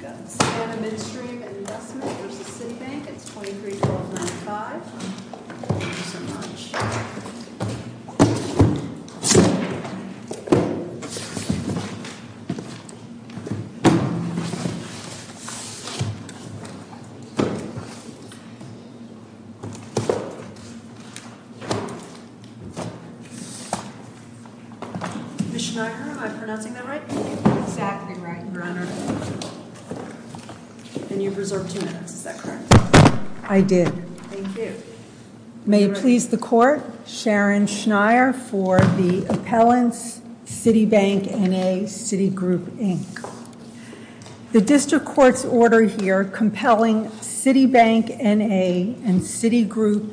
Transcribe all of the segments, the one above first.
Good. And a Midstream Investment v. Citibank. It's $23,295. Thank you so much. Mishniger, am I pronouncing that right? I think you're exactly right, Your Honor. And you've reserved two minutes. Is that correct? I did. Thank you. May it please the Court, Sharon Schneier for the appellant's Citibank N.A., Citigroup, Inc. The District Court's order here compelling Citibank N.A. and Citigroup,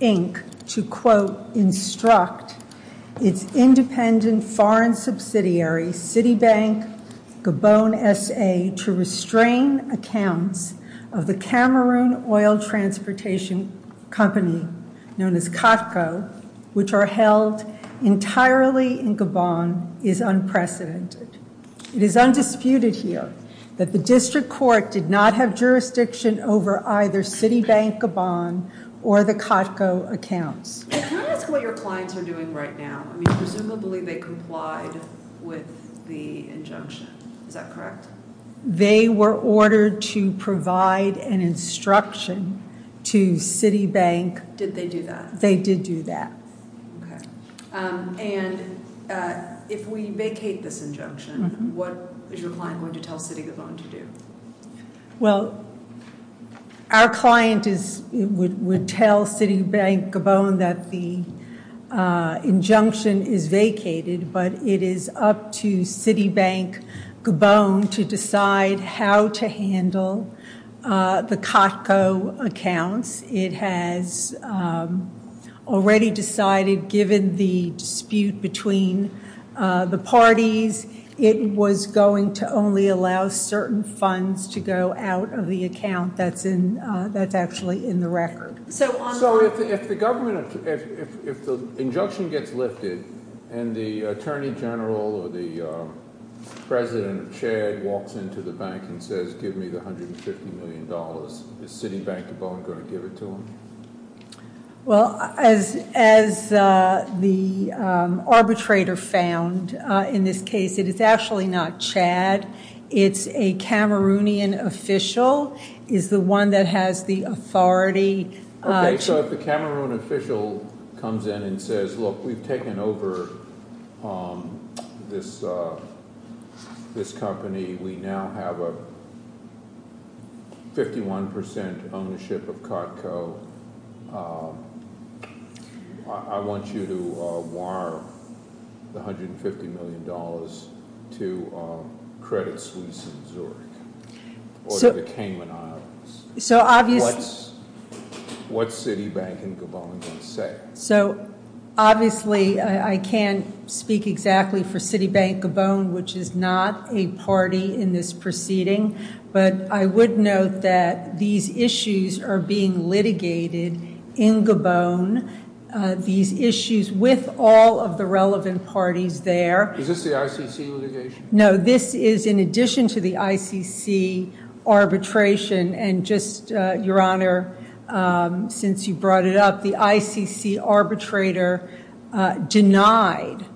Inc. to, quote, instruct its independent foreign subsidiary, Citibank-Gabon S.A., to restrain accounts of the Cameroon oil transportation company known as Katko, which are held entirely in Gabon, is unprecedented. It is undisputed here that the District Court did not have jurisdiction over either Citibank-Gabon or the Katko accounts. Can I ask what your clients are doing right now? I mean, presumably they complied with the injunction. Is that correct? They were ordered to provide an instruction to Citibank. Did they do that? They did do that. And if we vacate this injunction, what is your client going to tell Citigroup to do? Well, our client would tell Citibank-Gabon that the injunction is vacated, but it is up to Citibank-Gabon to decide how to handle the Katko accounts. It has already decided, given the dispute between the parties, it was going to only allow certain funds to go out of the account that's actually in the record. So if the injunction gets lifted and the Attorney General or the President of Chad walks into the bank and says, give me the $150 million, is Citibank-Gabon going to give it to him? Well, as the arbitrator found in this case, it is actually not Chad. It's a Cameroonian official is the one that has the authority. Okay, so if the Cameroonian official comes in and says, look, we've taken over this company. We now have a 51% ownership of Katko. I want you to wire the $150 million to Credit Suisse in Zurich or the Cayman Islands. What's Citibank-Gabon going to say? So obviously, I can't speak exactly for Citibank-Gabon, which is not a party in this proceeding. But I would note that these issues are being litigated in Gabon, these issues with all of the relevant parties there. Is this the ICC litigation? No, this is in addition to the ICC arbitration and just, Your Honor, since you brought it up, the ICC arbitrator denied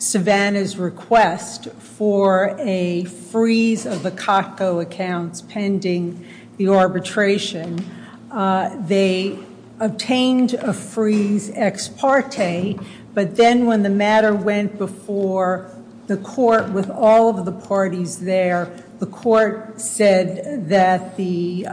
Savannah's request for a freeze of the Katko accounts pending the arbitration. They obtained a freeze ex parte, but then when the matter went before the court with all of the parties there, the court said that the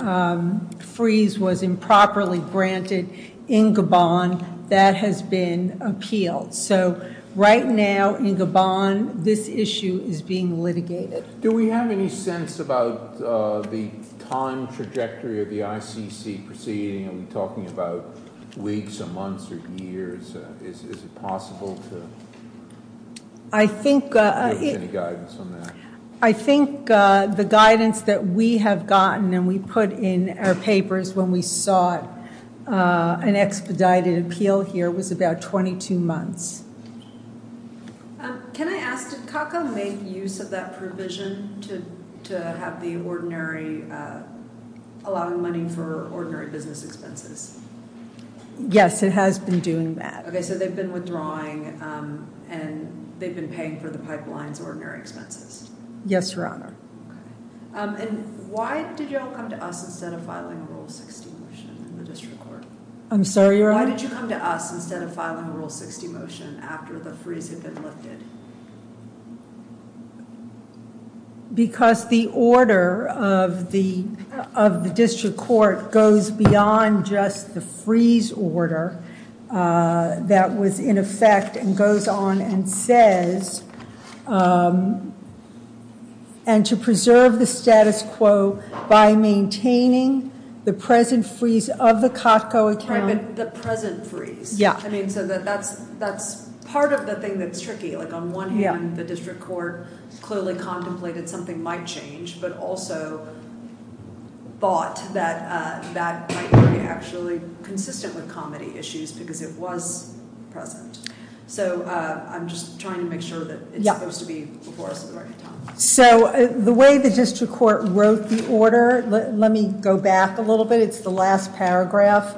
freeze was improperly granted in Gabon. That has been appealed. So right now in Gabon, this issue is being litigated. Do we have any sense about the time trajectory of the ICC proceeding? Are we talking about weeks or months or years? Is it possible to give us any guidance on that? I think the guidance that we have gotten and we put in our papers when we sought an expedited appeal here was about 22 months. Can I ask, did Katko make use of that provision to allow money for ordinary business expenses? Yes, it has been doing that. Okay, so they've been withdrawing and they've been paying for the pipeline's ordinary expenses? Yes, Your Honor. Okay. And why did you all come to us instead of filing a Rule 60 motion in the district court? I'm sorry, Your Honor? Why did you come to us instead of filing a Rule 60 motion after the freeze had been lifted? Because the order of the district court goes beyond just the freeze order that was in effect and goes on and says, and to preserve the status quo by maintaining the present freeze of the Katko account. Right, but the present freeze. Yeah. I mean, so that's part of the thing that's tricky. Like on one hand, the district court clearly contemplated something might change, but also thought that that might be actually consistent with comedy issues because it was present. So I'm just trying to make sure that it's supposed to be before us at the right time. So the way the district court wrote the order, let me go back a little bit. It's the last paragraph,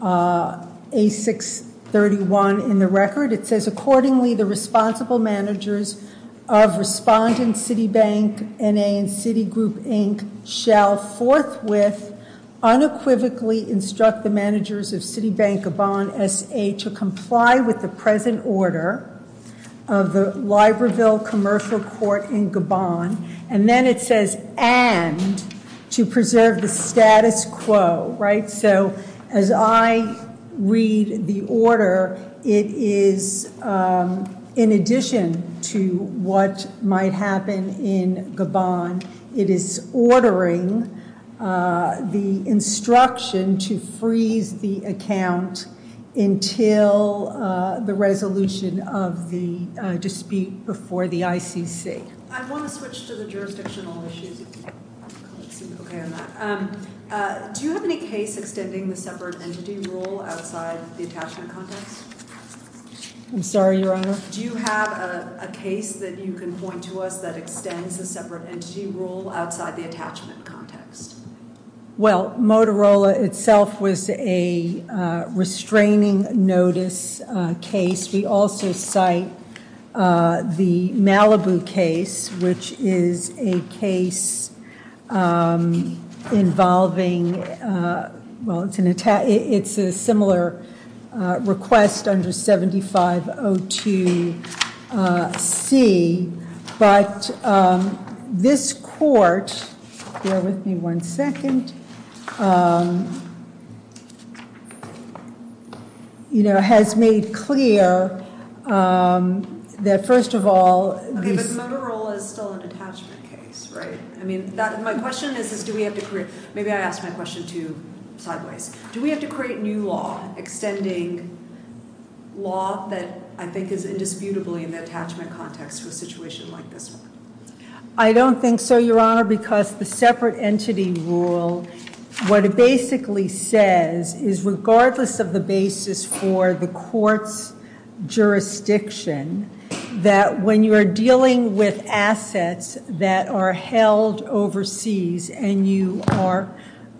A631 in the record. It says, accordingly, the responsible managers of respondent Citibank, N.A., and Citigroup, Inc. shall forthwith unequivocally instruct the managers of Citibank-Gabon S.A. to comply with the present order of the Libreville Commercial Court in Gabon. And then it says, and to preserve the status quo. Right, so as I read the order, it is in addition to what might happen in Gabon. It is ordering the instruction to freeze the account until the resolution of the dispute before the ICC. I want to switch to the jurisdictional issues. Do you have any case extending the separate entity rule outside the attachment context? I'm sorry, Your Honor? Do you have a case that you can point to us that extends the separate entity rule outside the attachment context? Well, Motorola itself was a restraining notice case. We also cite the Malibu case, which is a case involving, well, it's a similar request under 7502C. But this court, bear with me one second, you know, has made clear that, first of all, Okay, but Motorola is still an attachment case, right? I mean, my question is, do we have to create, maybe I asked my question too sideways. Do we have to create new law extending law that I think is indisputably in the attachment context to a situation like this one? I don't think so, Your Honor, because the separate entity rule, what it basically says is regardless of the basis for the court's jurisdiction, that when you are dealing with assets that are held overseas and you are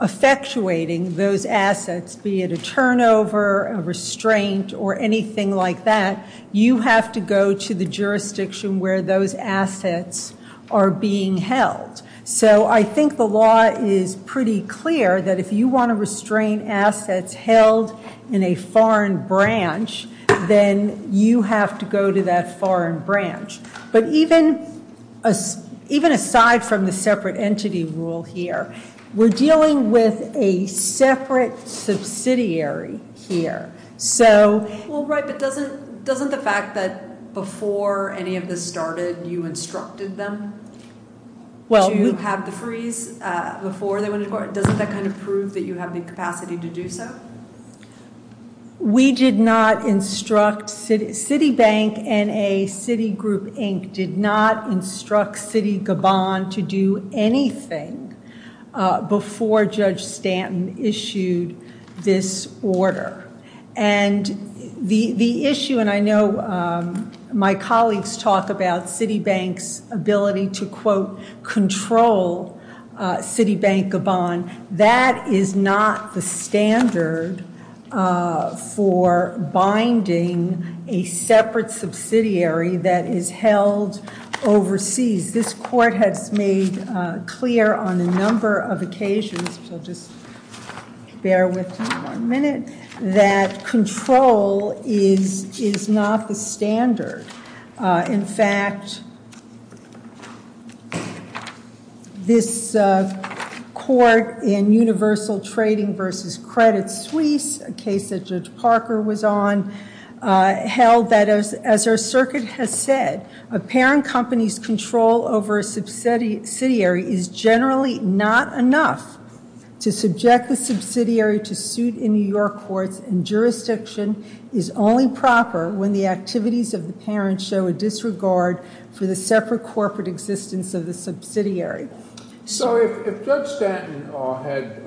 effectuating those assets, be it a turnover, a restraint, or anything like that, you have to go to the jurisdiction where those assets are being held. So I think the law is pretty clear that if you want to restrain assets held in a foreign branch, then you have to go to that foreign branch. But even aside from the separate entity rule here, we're dealing with a separate subsidiary here. Well, right, but doesn't the fact that before any of this started you instructed them to have the freeze before they went to court, doesn't that kind of prove that you have the capacity to do so? We did not instruct, Citibank and Citigroup Inc. did not instruct Citibank to do anything before Judge Stanton issued this order. And the issue, and I know my colleagues talk about Citibank's ability to, quote, control Citibank-Gabon. That is not the standard for binding a separate subsidiary that is held overseas. This court has made clear on a number of occasions, which I'll just bear with you for a minute, that control is not the standard. In fact, this court in Universal Trading v. Credit Suisse, a case that Judge Parker was on, held that as our circuit has said, a parent company's control over a subsidiary is generally not enough to subject the subsidiary to suit in New York courts, and jurisdiction is only proper when the activities of the parent show a disregard for the separate corporate existence of the subsidiary. So if Judge Stanton had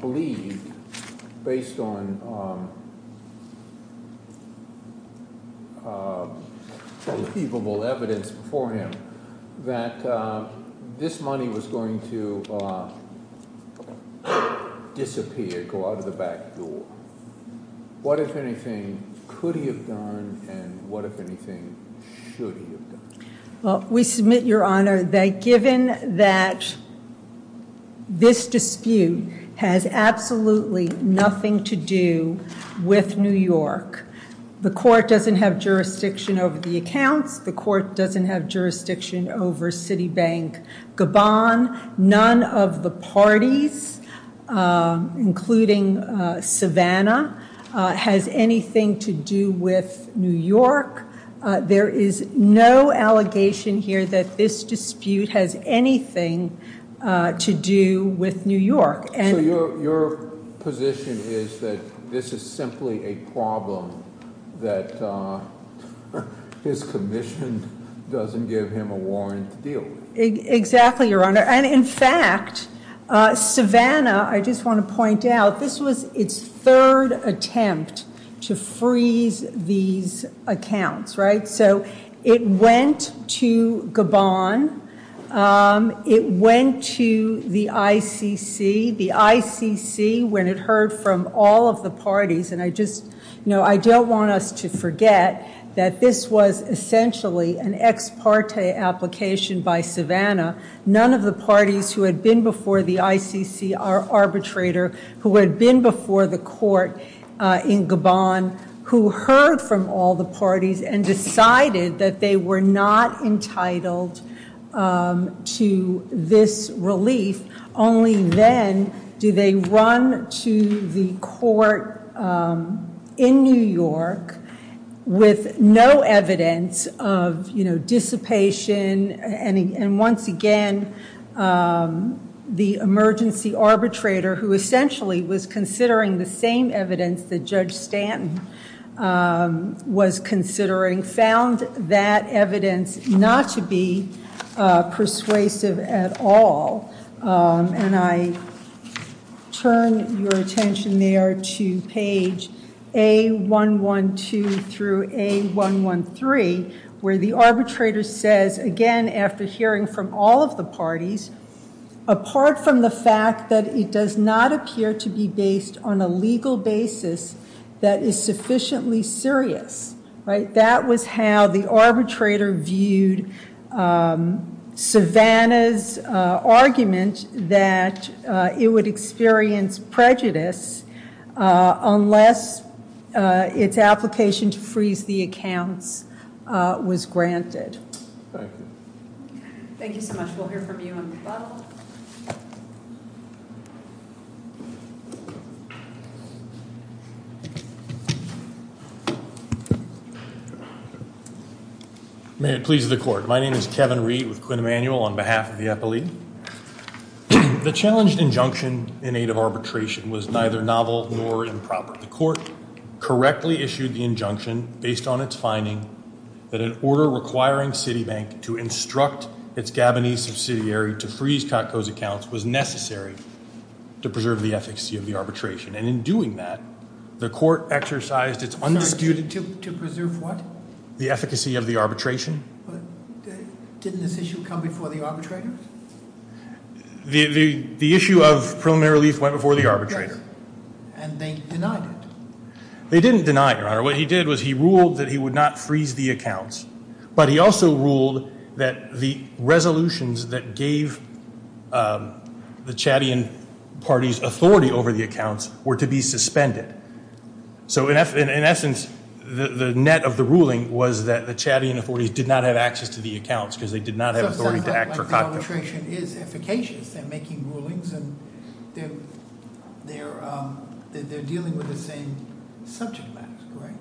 believed, based on believable evidence before him, that this money was going to disappear, go out of the back door, what, if anything, could he have done, and what, if anything, should he have done? Well, we submit, Your Honor, that given that this dispute has absolutely nothing to do with New York, the court doesn't have jurisdiction over the accounts. The court doesn't have jurisdiction over Citibank-Gabon. None of the parties, including Savannah, has anything to do with New York. There is no allegation here that this dispute has anything to do with New York. So your position is that this is simply a problem that his commission doesn't give him a warrant to deal with? Exactly, Your Honor. And, in fact, Savannah, I just want to point out, this was its third attempt to freeze these accounts, right? So it went to Gabon. It went to the ICC. The ICC, when it heard from all of the parties, and I just, you know, I don't want us to forget that this was essentially an ex parte application by Savannah. None of the parties who had been before the ICC, our arbitrator, who had been before the court in Gabon, who heard from all the parties and decided that they were not entitled to this relief, only then do they run to the court in New York with no evidence of, you know, dissipation, and once again the emergency arbitrator, who essentially was considering the same evidence that Judge Stanton was considering, found that evidence not to be persuasive at all. And I turn your attention there to page A112 through A113, where the arbitrator says, again, after hearing from all of the parties, apart from the fact that it does not appear to be based on a legal basis that is sufficiently serious, that was how the arbitrator viewed Savannah's argument that it would experience prejudice unless its application to freeze the accounts was granted. Thank you. Thank you so much. We'll hear from you on the bottle. May it please the court. My name is Kevin Reed with Quinn Emanuel on behalf of the Epilee. The challenged injunction in aid of arbitration was neither novel nor improper. The court correctly issued the injunction based on its finding that an order requiring Citibank to instruct its Gabonese subsidiary to freeze Kotko's accounts was necessary to preserve the efficacy of the arbitration. And in doing that, the court exercised its undisputed... To preserve what? The efficacy of the arbitration. But didn't this issue come before the arbitrator? The issue of preliminary relief went before the arbitrator. And they denied it. They didn't deny it, Your Honor. What he did was he ruled that he would not freeze the accounts. But he also ruled that the resolutions that gave the Chadian party's authority over the accounts were to be suspended. So in essence, the net of the ruling was that the Chadian authorities did not have access to the accounts because they did not have authority to act for Kotko. But the arbitration is efficacious. They're making rulings and they're dealing with the same subject matters, correct?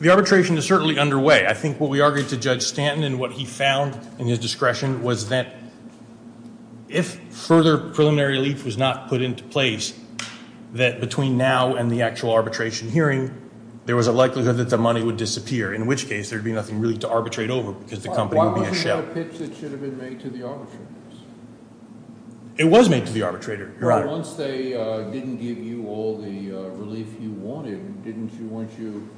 The arbitration is certainly underway. I think what we argued to Judge Stanton and what he found in his discretion was that if further preliminary relief was not put into place, that between now and the actual arbitration hearing, there was a likelihood that the money would disappear, in which case there would be nothing really to arbitrate over because the company would be a shell. It's not a pitch that should have been made to the arbitrators. It was made to the arbitrator, Your Honor. Once they didn't give you all the relief you wanted, weren't you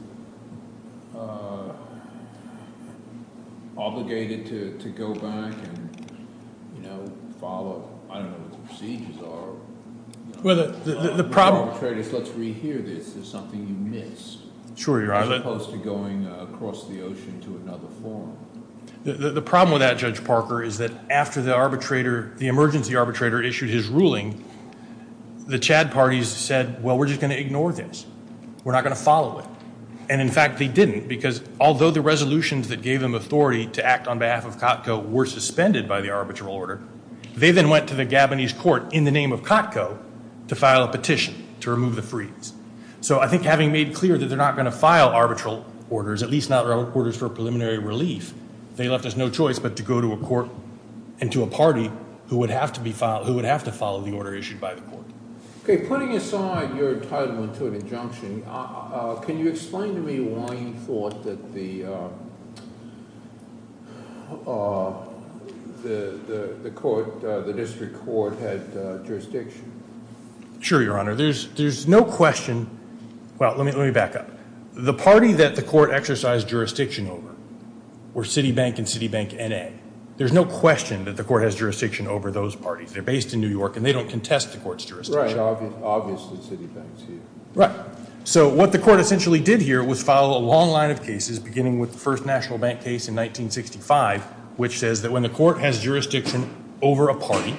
obligated to go back and follow? I don't know what the procedures are. Well, the problem— Let's rehear this. There's something you missed. Sure, Your Honor. As opposed to going across the ocean to another forum. The problem with that, Judge Parker, is that after the emergency arbitrator issued his ruling, the Chad parties said, well, we're just going to ignore this. We're not going to follow it. And, in fact, they didn't because although the resolutions that gave them authority to act on behalf of Kotko were suspended by the arbitral order, they then went to the Gabonese court in the name of Kotko to file a petition to remove the freeze. So I think having made clear that they're not going to file arbitral orders, at least not orders for preliminary relief, they left us no choice but to go to a court and to a party who would have to follow the order issued by the court. Putting aside your entitlement to an injunction, can you explain to me why you thought that the district court had jurisdiction? Sure, Your Honor. There's no question. Well, let me back up. The party that the court exercised jurisdiction over were Citibank and Citibank N.A. There's no question that the court has jurisdiction over those parties. They're based in New York, and they don't contest the court's jurisdiction. Right. Obviously, Citibank's here. Right. So what the court essentially did here was file a long line of cases beginning with the first National Bank case in 1965, which says that when the court has jurisdiction over a party,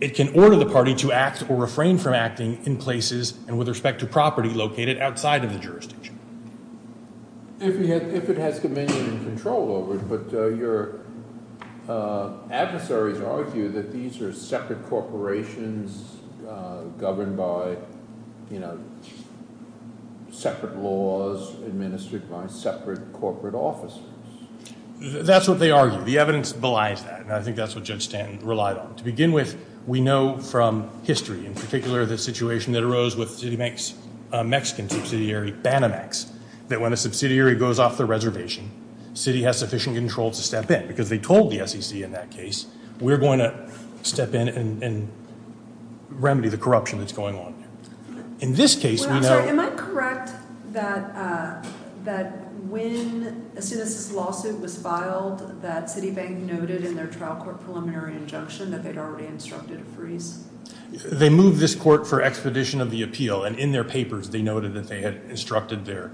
it can order the party to act or refrain from acting in places and with respect to property located outside of the jurisdiction. If it has dominion and control over it. But your adversaries argue that these are separate corporations governed by, you know, separate laws administered by separate corporate officers. That's what they argue. The evidence belies that, and I think that's what Judge Stanton relied on. To begin with, we know from history, in particular the situation that arose with Citibank's Mexican subsidiary, Banamex, that when a subsidiary goes off the reservation, the city has sufficient control to step in, because they told the SEC in that case, we're going to step in and remedy the corruption that's going on. In this case, we know- Wait, I'm sorry. Am I correct that when a citizen's lawsuit was filed that Citibank noted in their trial court preliminary injunction that they'd already instructed a freeze? They moved this court for expedition of the appeal, and in their papers they noted that they had instructed their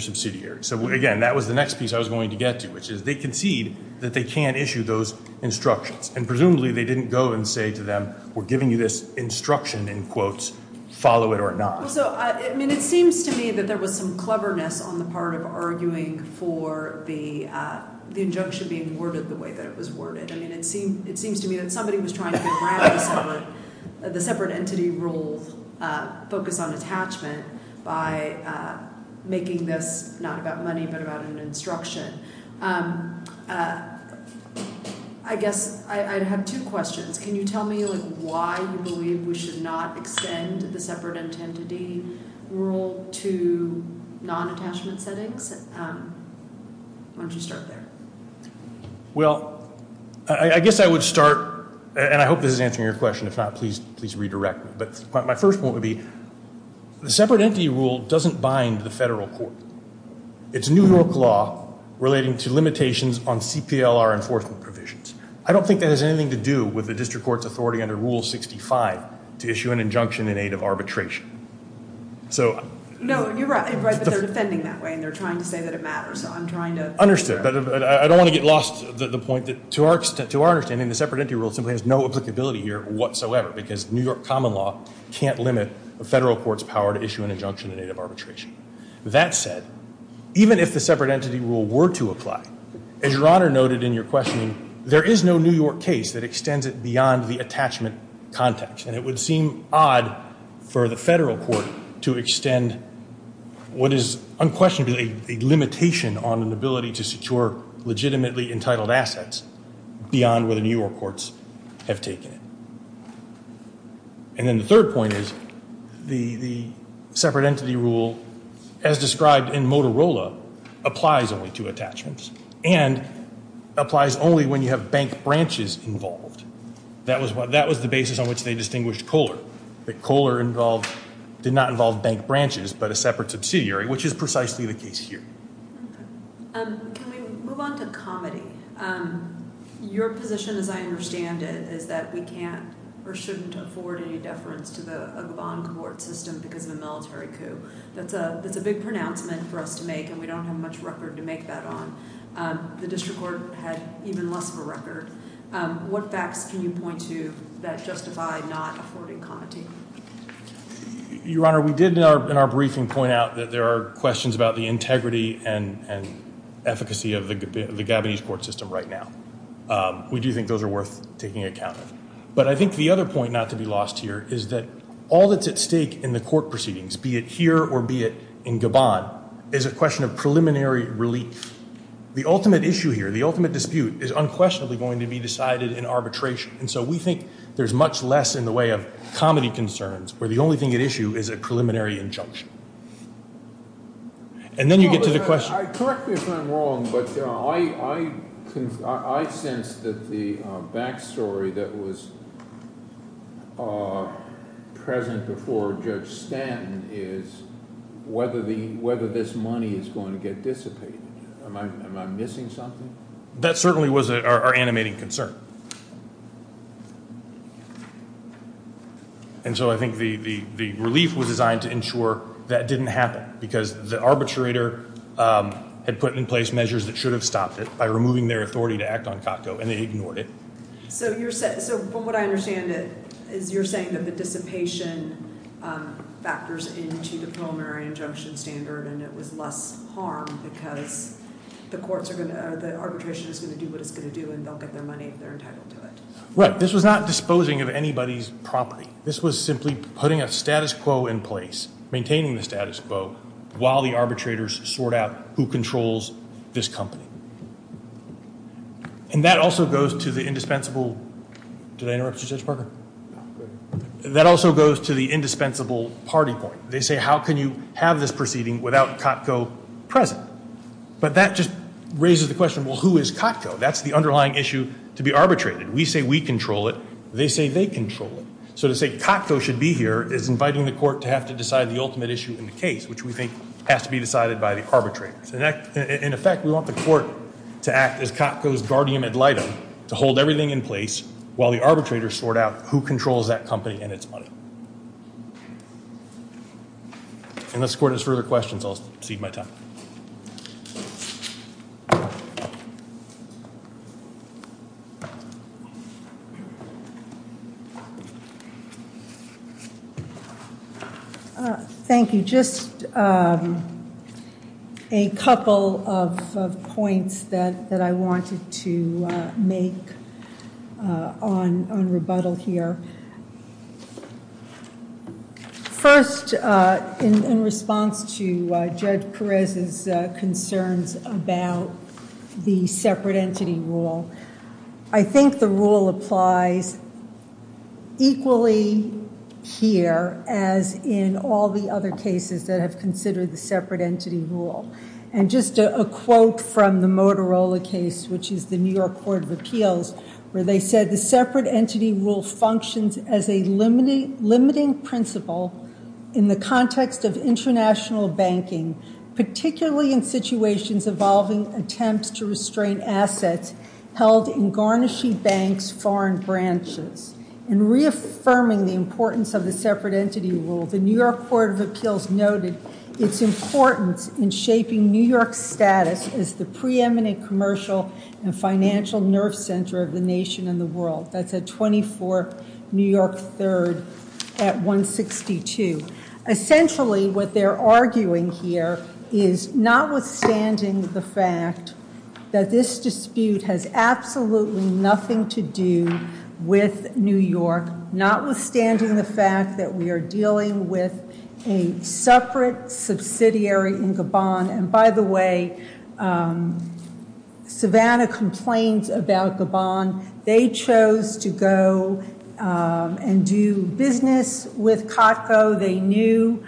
subsidiary. So again, that was the next piece I was going to get to, which is they concede that they can issue those instructions. And presumably they didn't go and say to them, we're giving you this instruction, in quotes, follow it or not. So, I mean, it seems to me that there was some cleverness on the part of arguing for the injunction being worded the way that it was worded. I mean, it seems to me that somebody was trying to grab the separate entity role, focus on attachment, by making this not about money but about an instruction. I guess I have two questions. Can you tell me why you believe we should not extend the separate entity rule to non-attachment settings? Why don't you start there? Well, I guess I would start, and I hope this is answering your question. If not, please redirect me. But my first point would be the separate entity rule doesn't bind the federal court. It's New York law relating to limitations on CPLR enforcement provisions. I don't think that has anything to do with the district court's authority under Rule 65 to issue an injunction in aid of arbitration. So- No, you're right. But they're defending that way, and they're trying to say that it matters. So I'm trying to- Understood. But I don't want to get lost to the point that, to our understanding, the separate entity rule simply has no applicability here whatsoever, because New York common law can't limit a federal court's power to issue an injunction in aid of arbitration. That said, even if the separate entity rule were to apply, as Your Honor noted in your questioning, there is no New York case that extends it beyond the attachment context, and it would seem odd for the federal court to extend what is unquestionably a limitation on an ability to secure legitimately entitled assets beyond where the New York courts have taken it. And then the third point is the separate entity rule, as described in Motorola, applies only to attachments and applies only when you have bank branches involved. That was the basis on which they distinguished Kohler. Kohler did not involve bank branches but a separate subsidiary, which is precisely the case here. Can we move on to comedy? Your position, as I understand it, is that we can't or shouldn't afford any deference to the Gabon court system because of a military coup. That's a big pronouncement for us to make, and we don't have much record to make that on. The district court had even less of a record. What facts can you point to that justify not affording comedy? Your Honor, we did in our briefing point out that there are questions about the integrity and efficacy of the Gabonese court system right now. We do think those are worth taking account of. But I think the other point not to be lost here is that all that's at stake in the court proceedings, be it here or be it in Gabon, is a question of preliminary relief. The ultimate issue here, the ultimate dispute, is unquestionably going to be decided in arbitration, and so we think there's much less in the way of comedy concerns, where the only thing at issue is a preliminary injunction. And then you get to the question. Correct me if I'm wrong, but I sense that the back story that was present before Judge Stanton is whether this money is going to get dissipated. Am I missing something? That certainly was our animating concern. And so I think the relief was designed to ensure that didn't happen, because the arbitrator had put in place measures that should have stopped it by removing their authority to act on COTCO, and they ignored it. So from what I understand, you're saying that the dissipation factors into the preliminary injunction standard and it was less harm because the arbitration is going to do what it's going to do and they'll get their money if they're entitled to it. Right. This was not disposing of anybody's property. This was simply putting a status quo in place, maintaining the status quo, while the arbitrators sort out who controls this company. And that also goes to the indispensable party point. They say, how can you have this proceeding without COTCO present? But that just raises the question, well, who is COTCO? That's the underlying issue to be arbitrated. We say we control it. They say they control it. So to say COTCO should be here is inviting the court to have to decide the ultimate issue in the case, which we think has to be decided by the arbitrators. In effect, we want the court to act as COTCO's guardian ad litem, to hold everything in place while the arbitrators sort out who controls that company and its money. Unless the court has further questions, I'll cede my time. Thank you. Just a couple of points that I wanted to make on rebuttal here. First, in response to Judge Perez's concerns about the separate entity rule, I think the rule applies equally here as in all the other cases that have considered the separate entity rule. And just a quote from the Motorola case, which is the New York Court of Appeals, where they said the separate entity rule functions as a limiting principle in the context of international banking, particularly in situations involving attempts to restrain assets held in garnishing banks' foreign branches. In reaffirming the importance of the separate entity rule, the New York Court of Appeals noted its importance in shaping New York's status as the preeminent commercial and financial nerve center of the nation and the world. That's at 24 New York 3rd at 162. Essentially, what they're arguing here is notwithstanding the fact that this dispute has absolutely nothing to do with New York, notwithstanding the fact that we are dealing with a separate subsidiary in Gabon. And by the way, Savannah complains about Gabon. They chose to go and do business with COTCO. They knew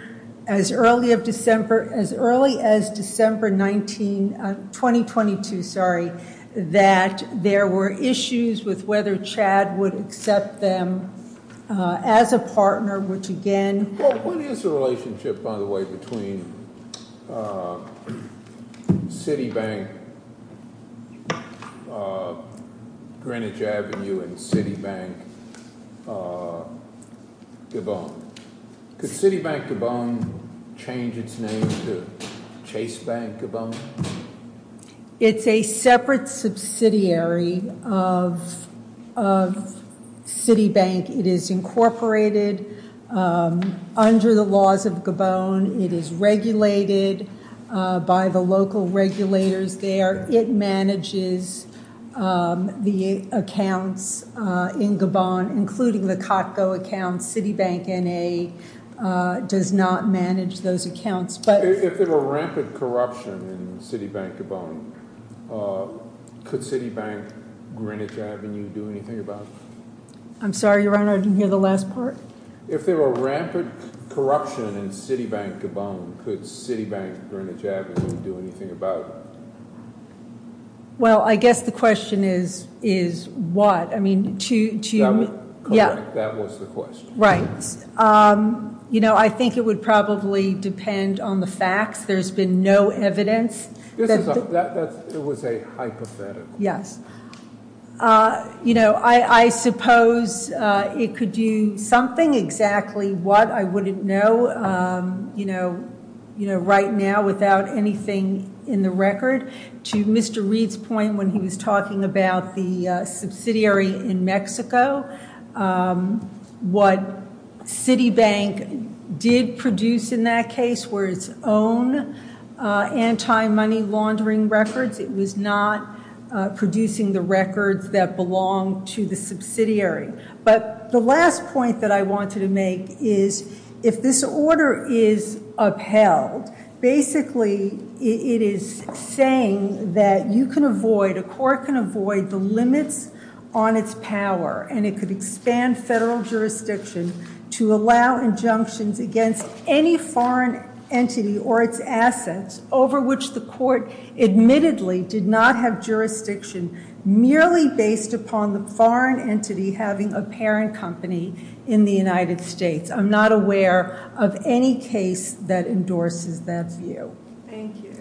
as early as December 19, 2022, sorry, that there were issues with whether Chad would accept them as a partner, which again- What is the relationship, by the way, between Citibank Greenwich Avenue and Citibank Gabon? Could Citibank Gabon change its name to Chase Bank Gabon? It's a separate subsidiary of Citibank. It is incorporated under the laws of Gabon. It is regulated by the local regulators there. It manages the accounts in Gabon, including the COTCO accounts. Citibank N.A. does not manage those accounts. If there were rampant corruption in Citibank Gabon, could Citibank Greenwich Avenue do anything about it? I'm sorry, Your Honor, I didn't hear the last part. If there were rampant corruption in Citibank Gabon, could Citibank Greenwich Avenue do anything about it? Well, I guess the question is what? I mean, to- That was the question. Right. I think it would probably depend on the facts. There's been no evidence. It was a hypothetical. Yes. You know, I suppose it could do something. Exactly what? I wouldn't know, you know, right now without anything in the record. To Mr. Reed's point when he was talking about the subsidiary in Mexico, what Citibank did produce in that case were its own anti-money laundering records. It was not producing the records that belonged to the subsidiary. But the last point that I wanted to make is if this order is upheld, basically it is saying that you can avoid, a court can avoid the limits on its power. And it could expand federal jurisdiction to allow injunctions against any foreign entity or its assets over which the court admittedly did not have jurisdiction merely based upon the foreign entity having a parent company in the United States. I'm not aware of any case that endorses that view. Thank you.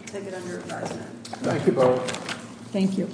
I take it under advisement. Thank you both. Thank you.